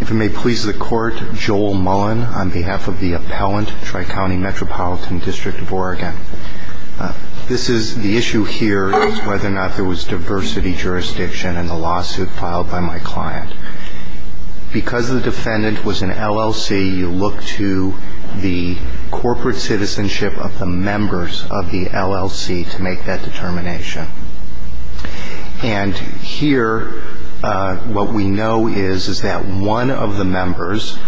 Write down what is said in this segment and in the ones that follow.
If it may please the Court, Joel Mullen on behalf of the Appellant, Tri-County Metropolitan District of Oregon. The issue here is whether or not there was diversity jurisdiction in the lawsuit filed by my client. Because the defendant was an LLC, you look to the corporate citizenship of the members of the LLC to make that determination. And here what we know is, is that one of the members'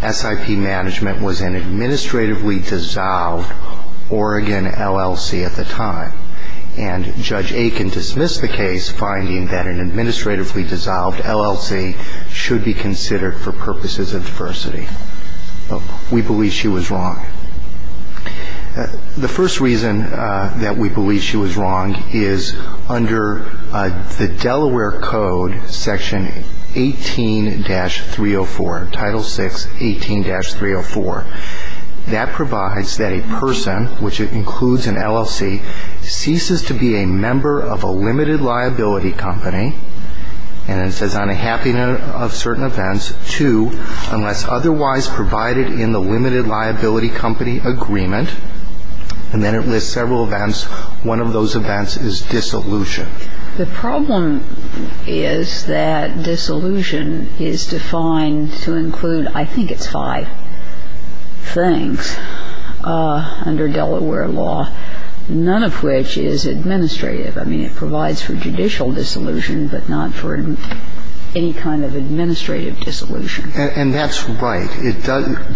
SIP management was an administratively dissolved Oregon LLC at the time. And Judge Aiken dismissed the case, finding that an administratively dissolved LLC should be considered for purposes of diversity. We believe she was wrong. The first reason that we believe she was wrong is under the Delaware Code, Section 18-304, Title VI, 18-304. That provides that a person, which includes an LLC, ceases to be a member of a limited liability company. And it says, on a happy note of certain events, to, unless otherwise provided in the limited liability company agreement. And then it lists several events. One of those events is dissolution. The problem is that dissolution is defined to include, I think it's five things under Delaware law, none of which is administrative. I mean, it provides for judicial dissolution, but not for any kind of administrative dissolution. And that's right.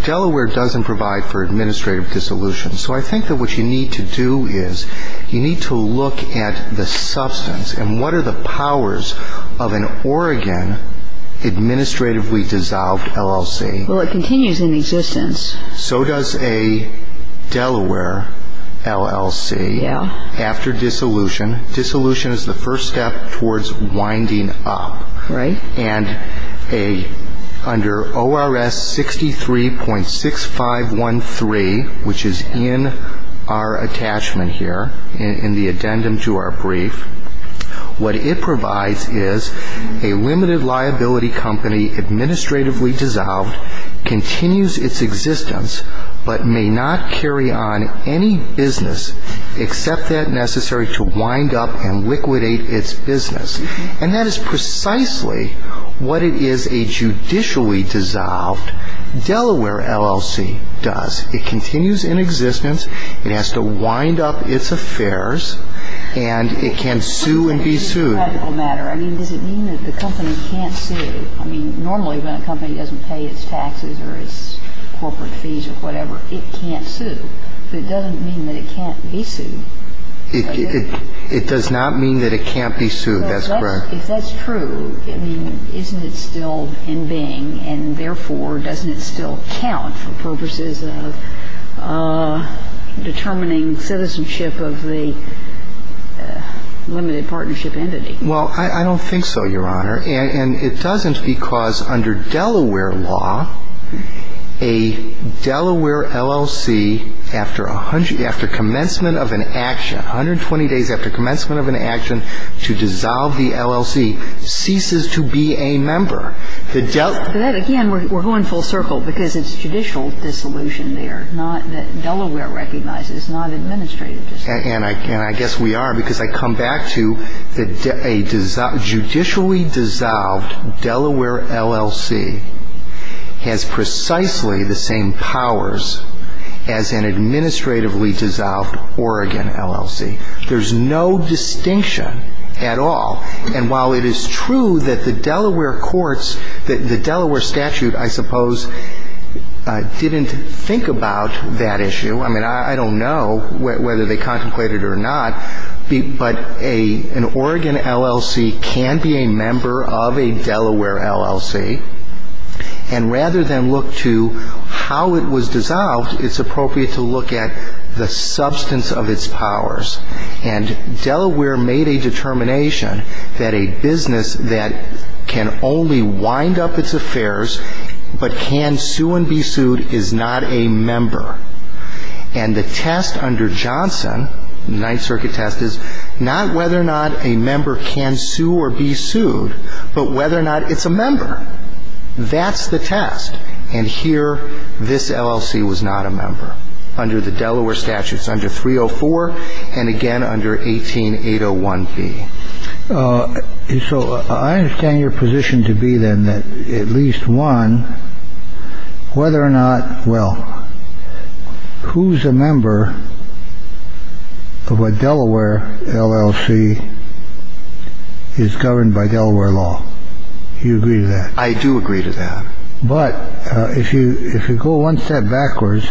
Delaware doesn't provide for administrative dissolution. So I think that what you need to do is you need to look at the substance. And what are the powers of an Oregon administratively dissolved LLC? Well, it continues in existence. So does a Delaware LLC after dissolution. Dissolution is the first step towards winding up. Right. And under ORS 63.6513, which is in our attachment here, in the addendum to our brief, what it provides is a limited liability company dissolved, continues its existence, but may not carry on any business except that necessary to wind up and liquidate its business. And that is precisely what it is a judicially dissolved Delaware LLC does. It continues in existence. It has to wind up its affairs. And it can sue and be sued. It's a practical matter. I mean, does it mean that the company can't sue? I mean, normally when a company doesn't pay its taxes or its corporate fees or whatever, it can't sue. But it doesn't mean that it can't be sued. It does not mean that it can't be sued. That's correct. If that's true, I mean, isn't it still in being? And therefore, doesn't it still count for purposes of determining citizenship of the limited partnership entity? Well, I don't think so, Your Honor. And it doesn't because under Delaware law, a Delaware LLC after 100 — after commencement of an action, 120 days after commencement of an action to dissolve the LLC ceases to be a member. That, again, we're going full circle because it's judicial dissolution there, not that Delaware recognizes, not administrative dissolution. And I guess we are because I come back to a judicially dissolved Delaware LLC has precisely the same powers as an administratively dissolved Oregon LLC. There's no distinction at all. And while it is true that the Delaware courts — the Delaware statute, I suppose, didn't think about that issue. I mean, I don't know whether they contemplated it or not, but an Oregon LLC can be a member of a Delaware LLC. And rather than look to how it was dissolved, it's appropriate to look at the substance of its powers. And Delaware made a determination that a business that can only wind up its affairs but can sue and be sued is not a member. And the test under Johnson, Ninth Circuit test, is not whether or not a member can sue or be sued, but whether or not it's a member. That's the test. And here, this LLC was not a member under the Delaware statutes under 304 and, again, under 18801B. So I understand your position to be, then, that at least one, whether or not — well, who's a member of a Delaware LLC is governed by Delaware law? Do you agree to that? I do agree to that. But if you if you go one step backwards,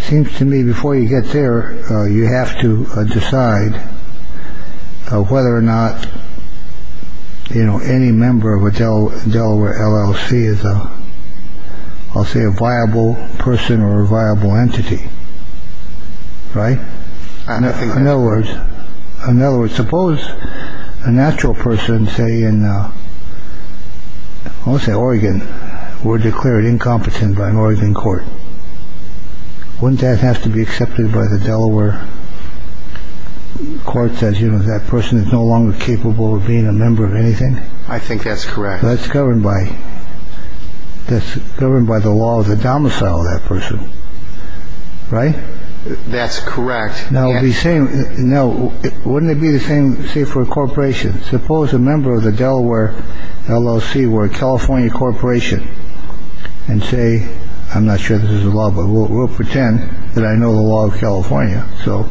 seems to me before you get there, you have to decide whether or not, you know, any member of a Delaware LLC is, I'll say, a viable person or a viable entity. Right. I don't think — In other words, in other words, suppose a natural person, say, in, let's say, Oregon, were declared incompetent by an Oregon court. Wouldn't that have to be accepted by the Delaware courts as, you know, that person is no longer capable of being a member of anything? I think that's correct. That's governed by — that's governed by the law of the domicile of that person. Right? That's correct. Now, the same — now, wouldn't it be the same, say, for a corporation? Suppose a member of the Delaware LLC were a California corporation and say — I'm not sure this is a law, but we'll pretend that I know the law of California. So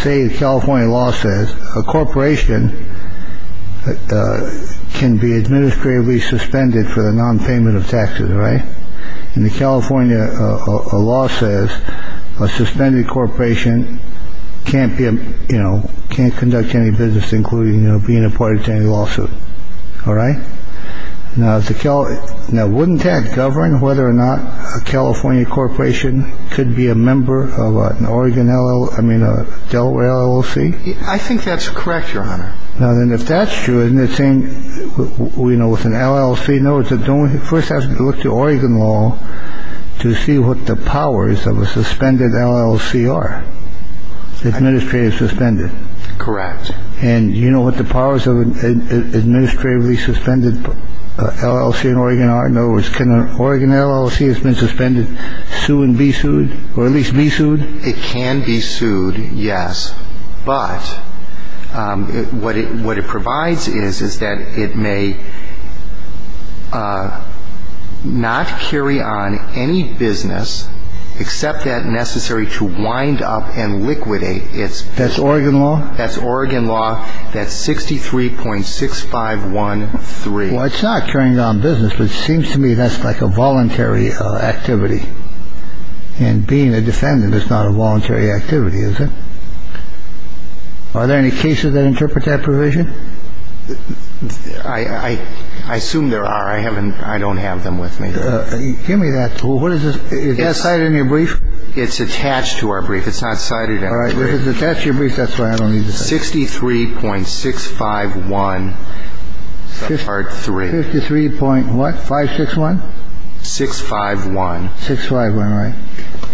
say the California law says a corporation can be administratively suspended for the nonpayment of taxes. Right. And the California law says a suspended corporation can't be, you know, can't conduct any business, including being a part of any lawsuit. All right? Now, wouldn't that govern whether or not a California corporation could be a member of an Oregon LLC — I mean, a Delaware LLC? I think that's correct, Your Honor. Now, then, if that's true, isn't it the same, you know, with an LLC? No, it's the only — you first have to look to Oregon law to see what the powers of a suspended LLC are. Administrative suspended. Correct. And you know what the powers of an administratively suspended LLC in Oregon are? In other words, can an Oregon LLC that's been suspended sue and be sued, or at least be sued? It can be sued, yes. But what it provides is, is that it may not carry on any business except that necessary to wind up and liquidate its — That's Oregon law? That's Oregon law. That's 63.6513. Well, it's not carrying on business, but it seems to me that's like a voluntary activity. And being a defendant is not a voluntary activity, is it? Are there any cases that interpret that provision? I assume there are. I haven't — I don't have them with me. Give me that. What is this? Is that cited in your brief? It's attached to our brief. It's not cited in our brief. All right. It's attached to your brief. That's why I don't need this. 63.651 part 3. 53.what? 561? 651. 651, right.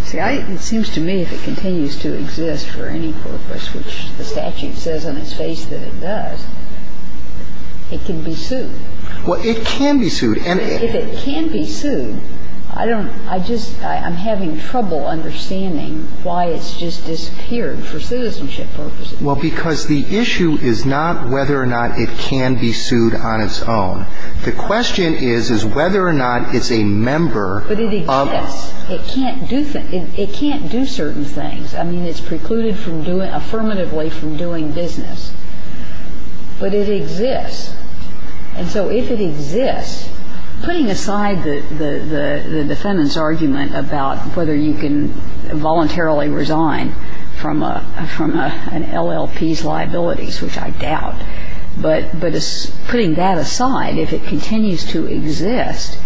See, it seems to me if it continues to exist for any purpose, which the statute says on its face that it does, it can be sued. Well, it can be sued. If it can be sued, I don't — I just — I'm having trouble understanding why it's just disappeared for citizenship purposes. Well, because the issue is not whether or not it can be sued on its own. The question is, is whether or not it's a member of — But it exists. It can't do certain things. I mean, it's precluded from doing — affirmatively from doing business. But it exists. And so if it exists, putting aside the defendant's argument about whether you can voluntarily resign from an LLP's liabilities, which I doubt, but putting that aside, if it continues to exist,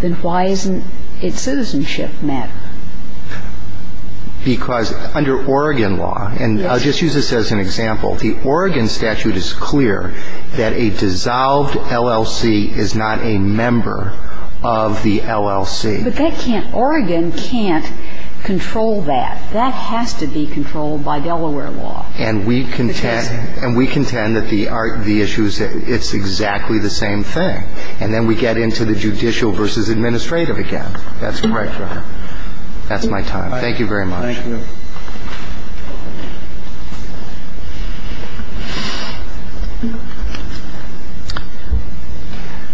then why isn't its citizenship matter? Because under Oregon law, and I'll just use this as an example, the Oregon statute is clear that a dissolved LLC is not a member of the LLC. But that can't — Oregon can't control that. That has to be controlled by Delaware law. And we contend that the issues — it's exactly the same thing. And then we get into the judicial versus administrative again. That's correct, Your Honor. That's my time. Thank you very much. Thank you.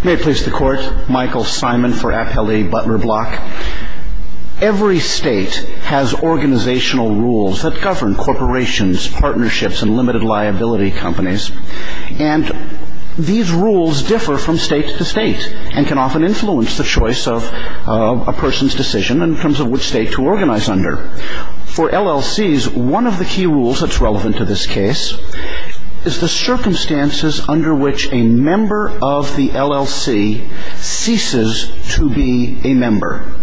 May it please the Court. Michael Simon for Appellee Butler Block. Every state has organizational rules that govern corporations, partnerships, and limited liability companies. And these rules differ from state to state and can often influence the choice of a person's decision in terms of which state to organize under. For LLCs, one of the key rules that's relevant to this case is the circumstances under which a member of the LLC ceases to be a member.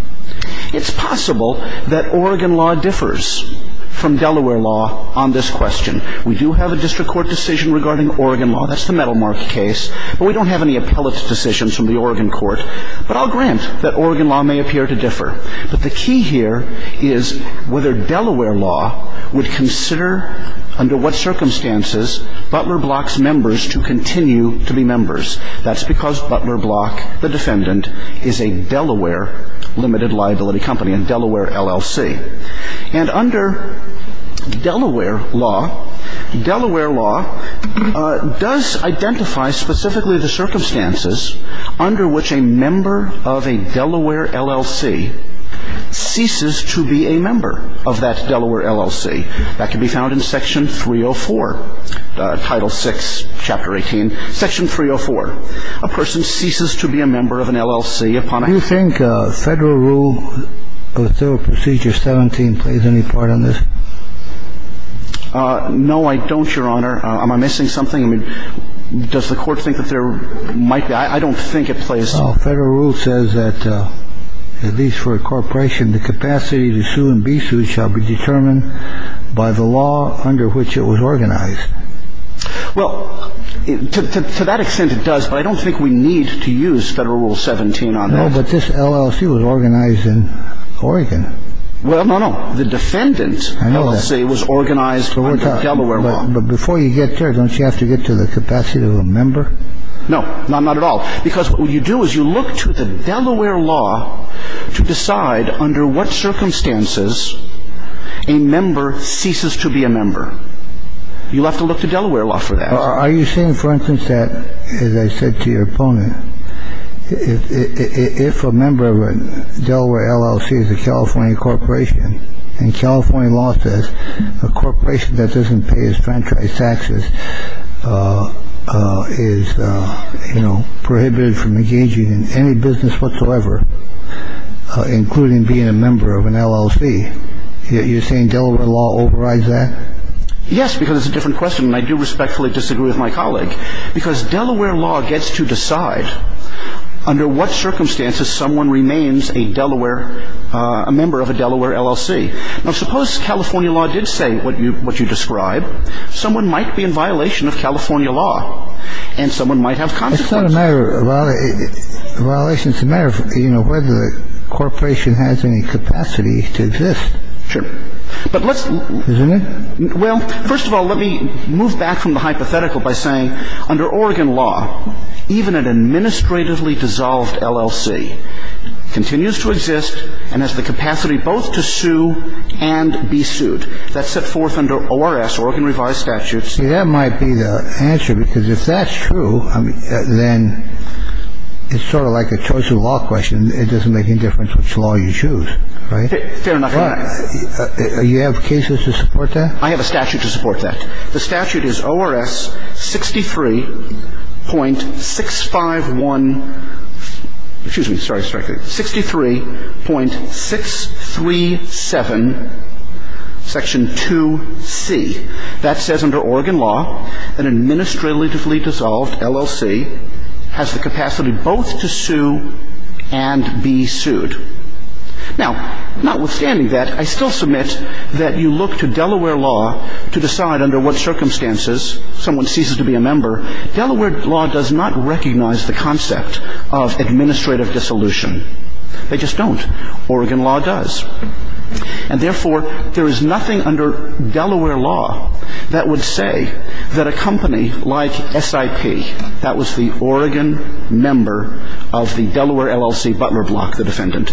It's possible that Oregon law differs from Delaware law on this question. We do have a district court decision regarding Oregon law. That's the metal mark case. But we don't have any appellate decisions from the Oregon court. But the key here is whether Delaware law would consider under what circumstances Butler Block's members to continue to be members. That's because Butler Block, the defendant, is a Delaware limited liability company, a Delaware LLC. And under Delaware law, Delaware law does identify specifically the circumstances under which a member of a Delaware LLC ceases to be a member of that Delaware LLC. That can be found in Section 304, Title VI, Chapter 18, Section 304. A person ceases to be a member of an LLC upon a ---- Do you think Federal Rule Procedure 17 plays any part in this? No, I don't, Your Honor. Am I missing something? I mean, does the court think that there might be? I don't think it plays ---- Federal rule says that at least for a corporation, the capacity to sue and be sued shall be determined by the law under which it was organized. Well, to that extent, it does. But I don't think we need to use Federal Rule 17 on this. No, but this LLC was organized in Oregon. Well, no, no. The defendant's LLC was organized under Delaware law. But before you get there, don't you have to get to the capacity of a member? No, not at all. Because what you do is you look to the Delaware law to decide under what circumstances a member ceases to be a member. You'll have to look to Delaware law for that. Are you saying, for instance, that, as I said to your opponent, if a member of a Delaware LLC is a California corporation, and California law says a corporation that doesn't pay its franchise taxes is, you know, prohibited from engaging in any business whatsoever, including being a member of an LLC, you're saying Delaware law overrides that? Yes, because it's a different question, and I do respectfully disagree with my colleague. Because Delaware law gets to decide under what circumstances someone remains a Delaware — a member of a Delaware LLC. Now, suppose California law did say what you describe. Someone might be in violation of California law, and someone might have consequences. It's not a matter of violation. It's a matter of, you know, whether the corporation has any capacity to exist. Sure. But let's — Isn't it? Well, first of all, let me move back from the hypothetical by saying, under Oregon law, even an administratively dissolved LLC continues to exist and has the capacity both to sue and be sued. That's set forth under ORS, Oregon Revised Statutes. See, that might be the answer, because if that's true, then it's sort of like a choice of law question. It doesn't make any difference which law you choose, right? Fair enough. All right. You have cases to support that? I have a statute to support that. The statute is ORS 63.651 — excuse me. Sorry. 63.637, Section 2C. That says under Oregon law, an administratively dissolved LLC has the capacity both to sue and be sued. Now, notwithstanding that, I still submit that you look to Delaware law to decide under what circumstances someone ceases to be a member. Delaware law does not recognize the concept of administrative dissolution. They just don't. Oregon law does. And therefore, there is nothing under Delaware law that would say that a company like SIP, that was the Oregon member of the Delaware LLC, Butler Block, the defendant.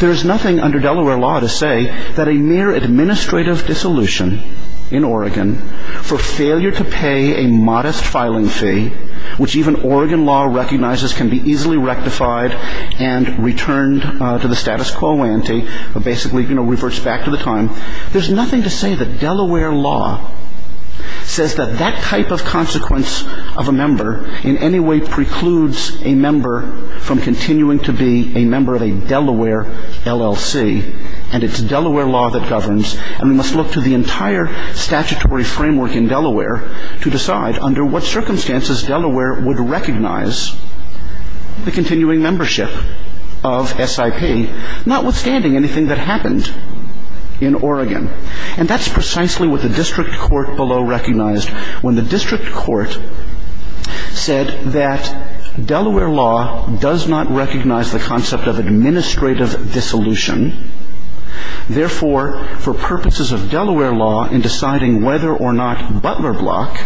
There is nothing under Delaware law to say that a mere administrative dissolution in Oregon for failure to pay a modest filing fee, which even Oregon law recognizes can be easily rectified and returned to the status quo ante, but basically, you know, reverts back to the time. There's nothing to say that Delaware law says that that type of consequence of a member in any way precludes a member from continuing to be a member of a Delaware LLC. And it's Delaware law that governs. And we must look to the entire statutory framework in Delaware to decide under what circumstances Delaware would recognize the continuing membership of SIP, notwithstanding anything that happened in Oregon. And that's precisely what the district court below recognized. When the district court said that Delaware law does not recognize the concept of administrative dissolution, therefore, for purposes of Delaware law in deciding whether or not Butler Block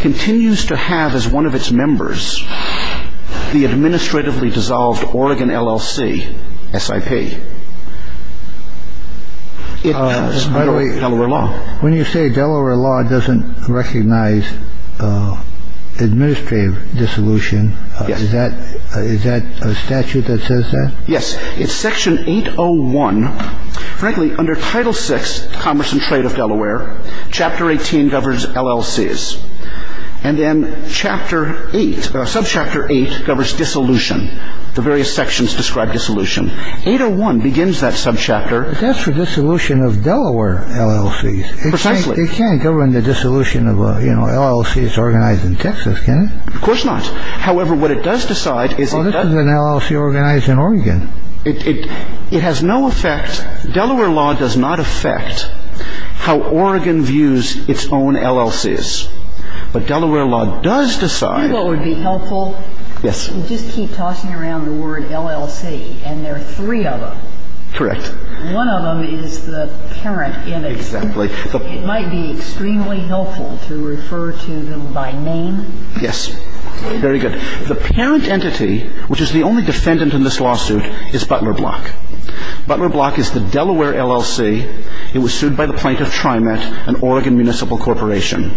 continues to have as one of its members the administratively dissolved Oregon LLC, SIP. It's under Delaware law. When you say Delaware law doesn't recognize administrative dissolution, is that a statute that says that? Yes. It's Section 801. Frankly, under Title VI, Commerce and Trade of Delaware, Chapter 18 governs LLCs. And then Chapter 8, Subchapter 8, governs dissolution. The various sections describe dissolution. 801 begins that subchapter. But that's for dissolution of Delaware LLCs. Precisely. It can't govern the dissolution of, you know, LLCs organized in Texas, can it? Of course not. It can't govern the dissolution of Delaware LLCs. It can't govern the dissolution of Delaware LLCs. However, what it does decide is it doesn't. Well, this is an LLC organized in Oregon. It has no effect. Delaware law does not affect how Oregon views its own LLCs. But Delaware law does decide. You know what would be helpful? Yes. You just keep tossing around the word LLC, and there are three of them. Correct. One of them is the parent in it. Exactly. It might be extremely helpful to refer to them by name. Yes. Very good. The parent entity, which is the only defendant in this lawsuit, is Butler Block. Butler Block is the Delaware LLC. It was sued by the plaintiff, TriMet, an Oregon municipal corporation.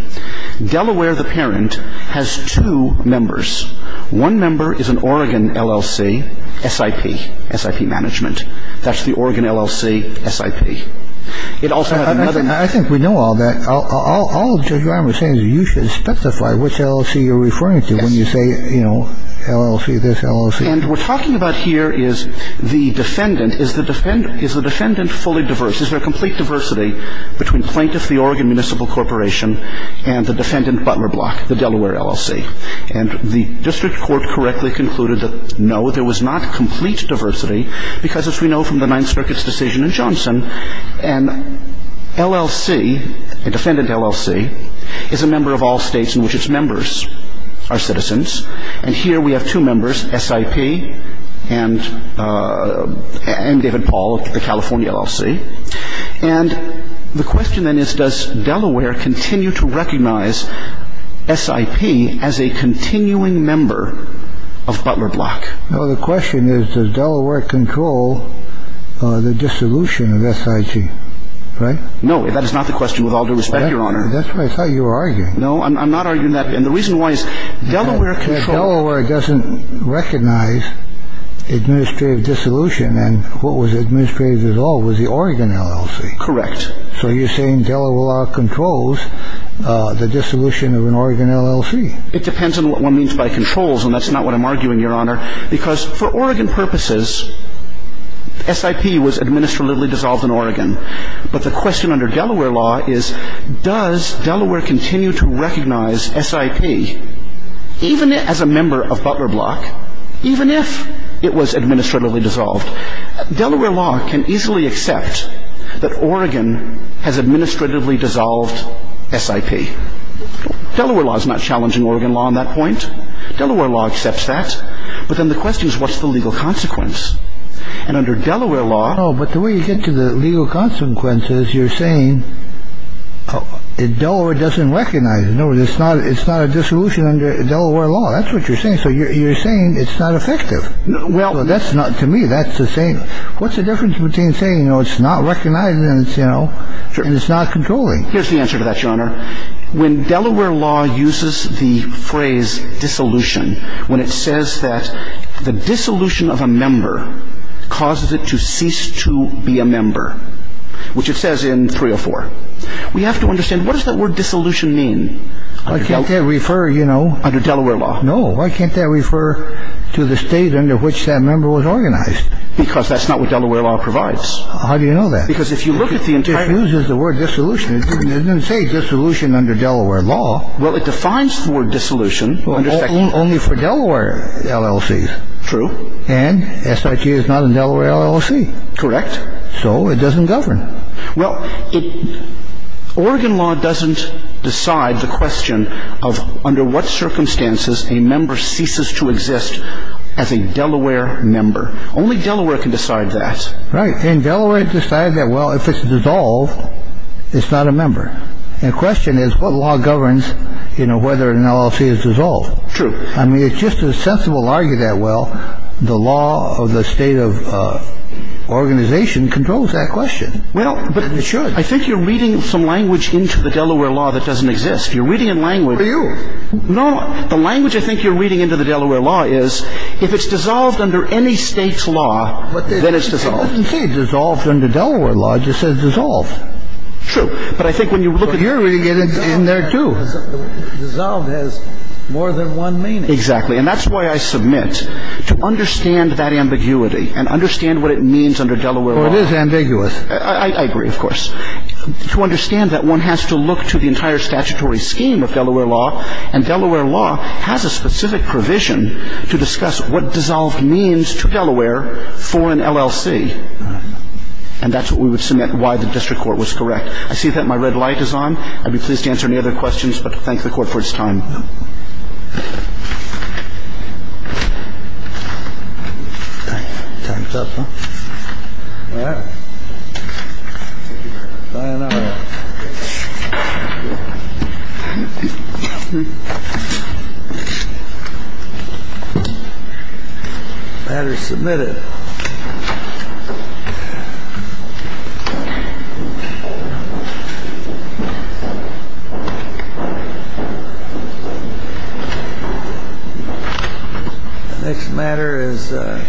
Delaware, the parent, has two members. One member is an Oregon LLC, SIP, SIP Management. That's the Oregon LLC, SIP. It also has another member. I think we know all that. All Judge Rahm was saying is you should specify which LLC you're referring to when you say, you know, LLC, this LLC. And what we're talking about here is the defendant. Is the defendant fully diverse? Is there complete diversity between plaintiff, the Oregon municipal corporation, and the defendant, Butler Block, the Delaware LLC? And the district court correctly concluded that, no, there was not complete diversity, because as we know from the Ninth Circuit's decision in Johnson, an LLC, a defendant LLC, is a member of all states in which its members are citizens. And here we have two members, SIP and David Paul of the California LLC. And the question then is, does Delaware continue to recognize SIP as a continuing member of Butler Block? No, the question is, does Delaware control the dissolution of SIP? Right? No, that is not the question, with all due respect, Your Honor. That's what I thought you were arguing. No, I'm not arguing that. And the reason why is Delaware controls. It doesn't recognize administrative dissolution. And what was administrative dissolved was the Oregon LLC. Correct. So you're saying Delaware controls the dissolution of an Oregon LLC. It depends on what one means by controls, and that's not what I'm arguing, Your Honor, because for Oregon purposes, SIP was administratively dissolved in Oregon. But the question under Delaware law is, does Delaware continue to recognize SIP, even as a member of Butler Block, even if it was administratively dissolved? Delaware law can easily accept that Oregon has administratively dissolved SIP. Delaware law is not challenging Oregon law on that point. Delaware law accepts that. But then the question is, what's the legal consequence? And under Delaware law. No, but the way you get to the legal consequences, you're saying Delaware doesn't recognize it. No, it's not a dissolution under Delaware law. That's what you're saying. So you're saying it's not effective. Well. That's not to me. That's the same. What's the difference between saying it's not recognized and it's not controlling? Here's the answer to that, Your Honor. When Delaware law uses the phrase dissolution, when it says that the dissolution of a member causes it to cease to be a member, which it says in 304, we have to understand, what does that word dissolution mean? I can't refer, you know. Under Delaware law. No. Why can't that refer to the state under which that member was organized? Because that's not what Delaware law provides. How do you know that? Because if you look at the entire. It uses the word dissolution. It doesn't say dissolution under Delaware law. Well, it defines the word dissolution. Only for Delaware LLCs. True. And SIP is not a Delaware LLC. Correct. So it doesn't govern. Well, Oregon law doesn't decide the question of under what circumstances a member ceases to exist as a Delaware member. Only Delaware can decide that. Right. And Delaware decided that, well, if it's dissolved, it's not a member. The question is what law governs, you know, whether an LLC is dissolved. True. I mean, it's just as sensible to argue that, well, the law of the state of organization controls that question. Well, but I think you're reading some language into the Delaware law that doesn't exist. You're reading a language. Are you? No. The language I think you're reading into the Delaware law is if it's dissolved under any state's law, then it's dissolved. It doesn't say dissolved under Delaware law. It just says dissolved. True. But I think when you look at it. But you're reading it in there, too. Dissolved has more than one meaning. Exactly. And that's why I submit to understand that ambiguity and understand what it means under Delaware law. Well, it is ambiguous. I agree, of course. To understand that one has to look to the entire statutory scheme of Delaware law. And Delaware law has a specific provision to discuss what dissolved means to Delaware for an LLC. And that's what we would submit why the district court was correct. I see that my red light is on. I'd be pleased to answer any other questions, but to thank the Court for its time. Thank you. Thanks. Time's up. Well. I don't know. That is submitted. Thank you. Next matter is. Thank you. Thank you. Thank you.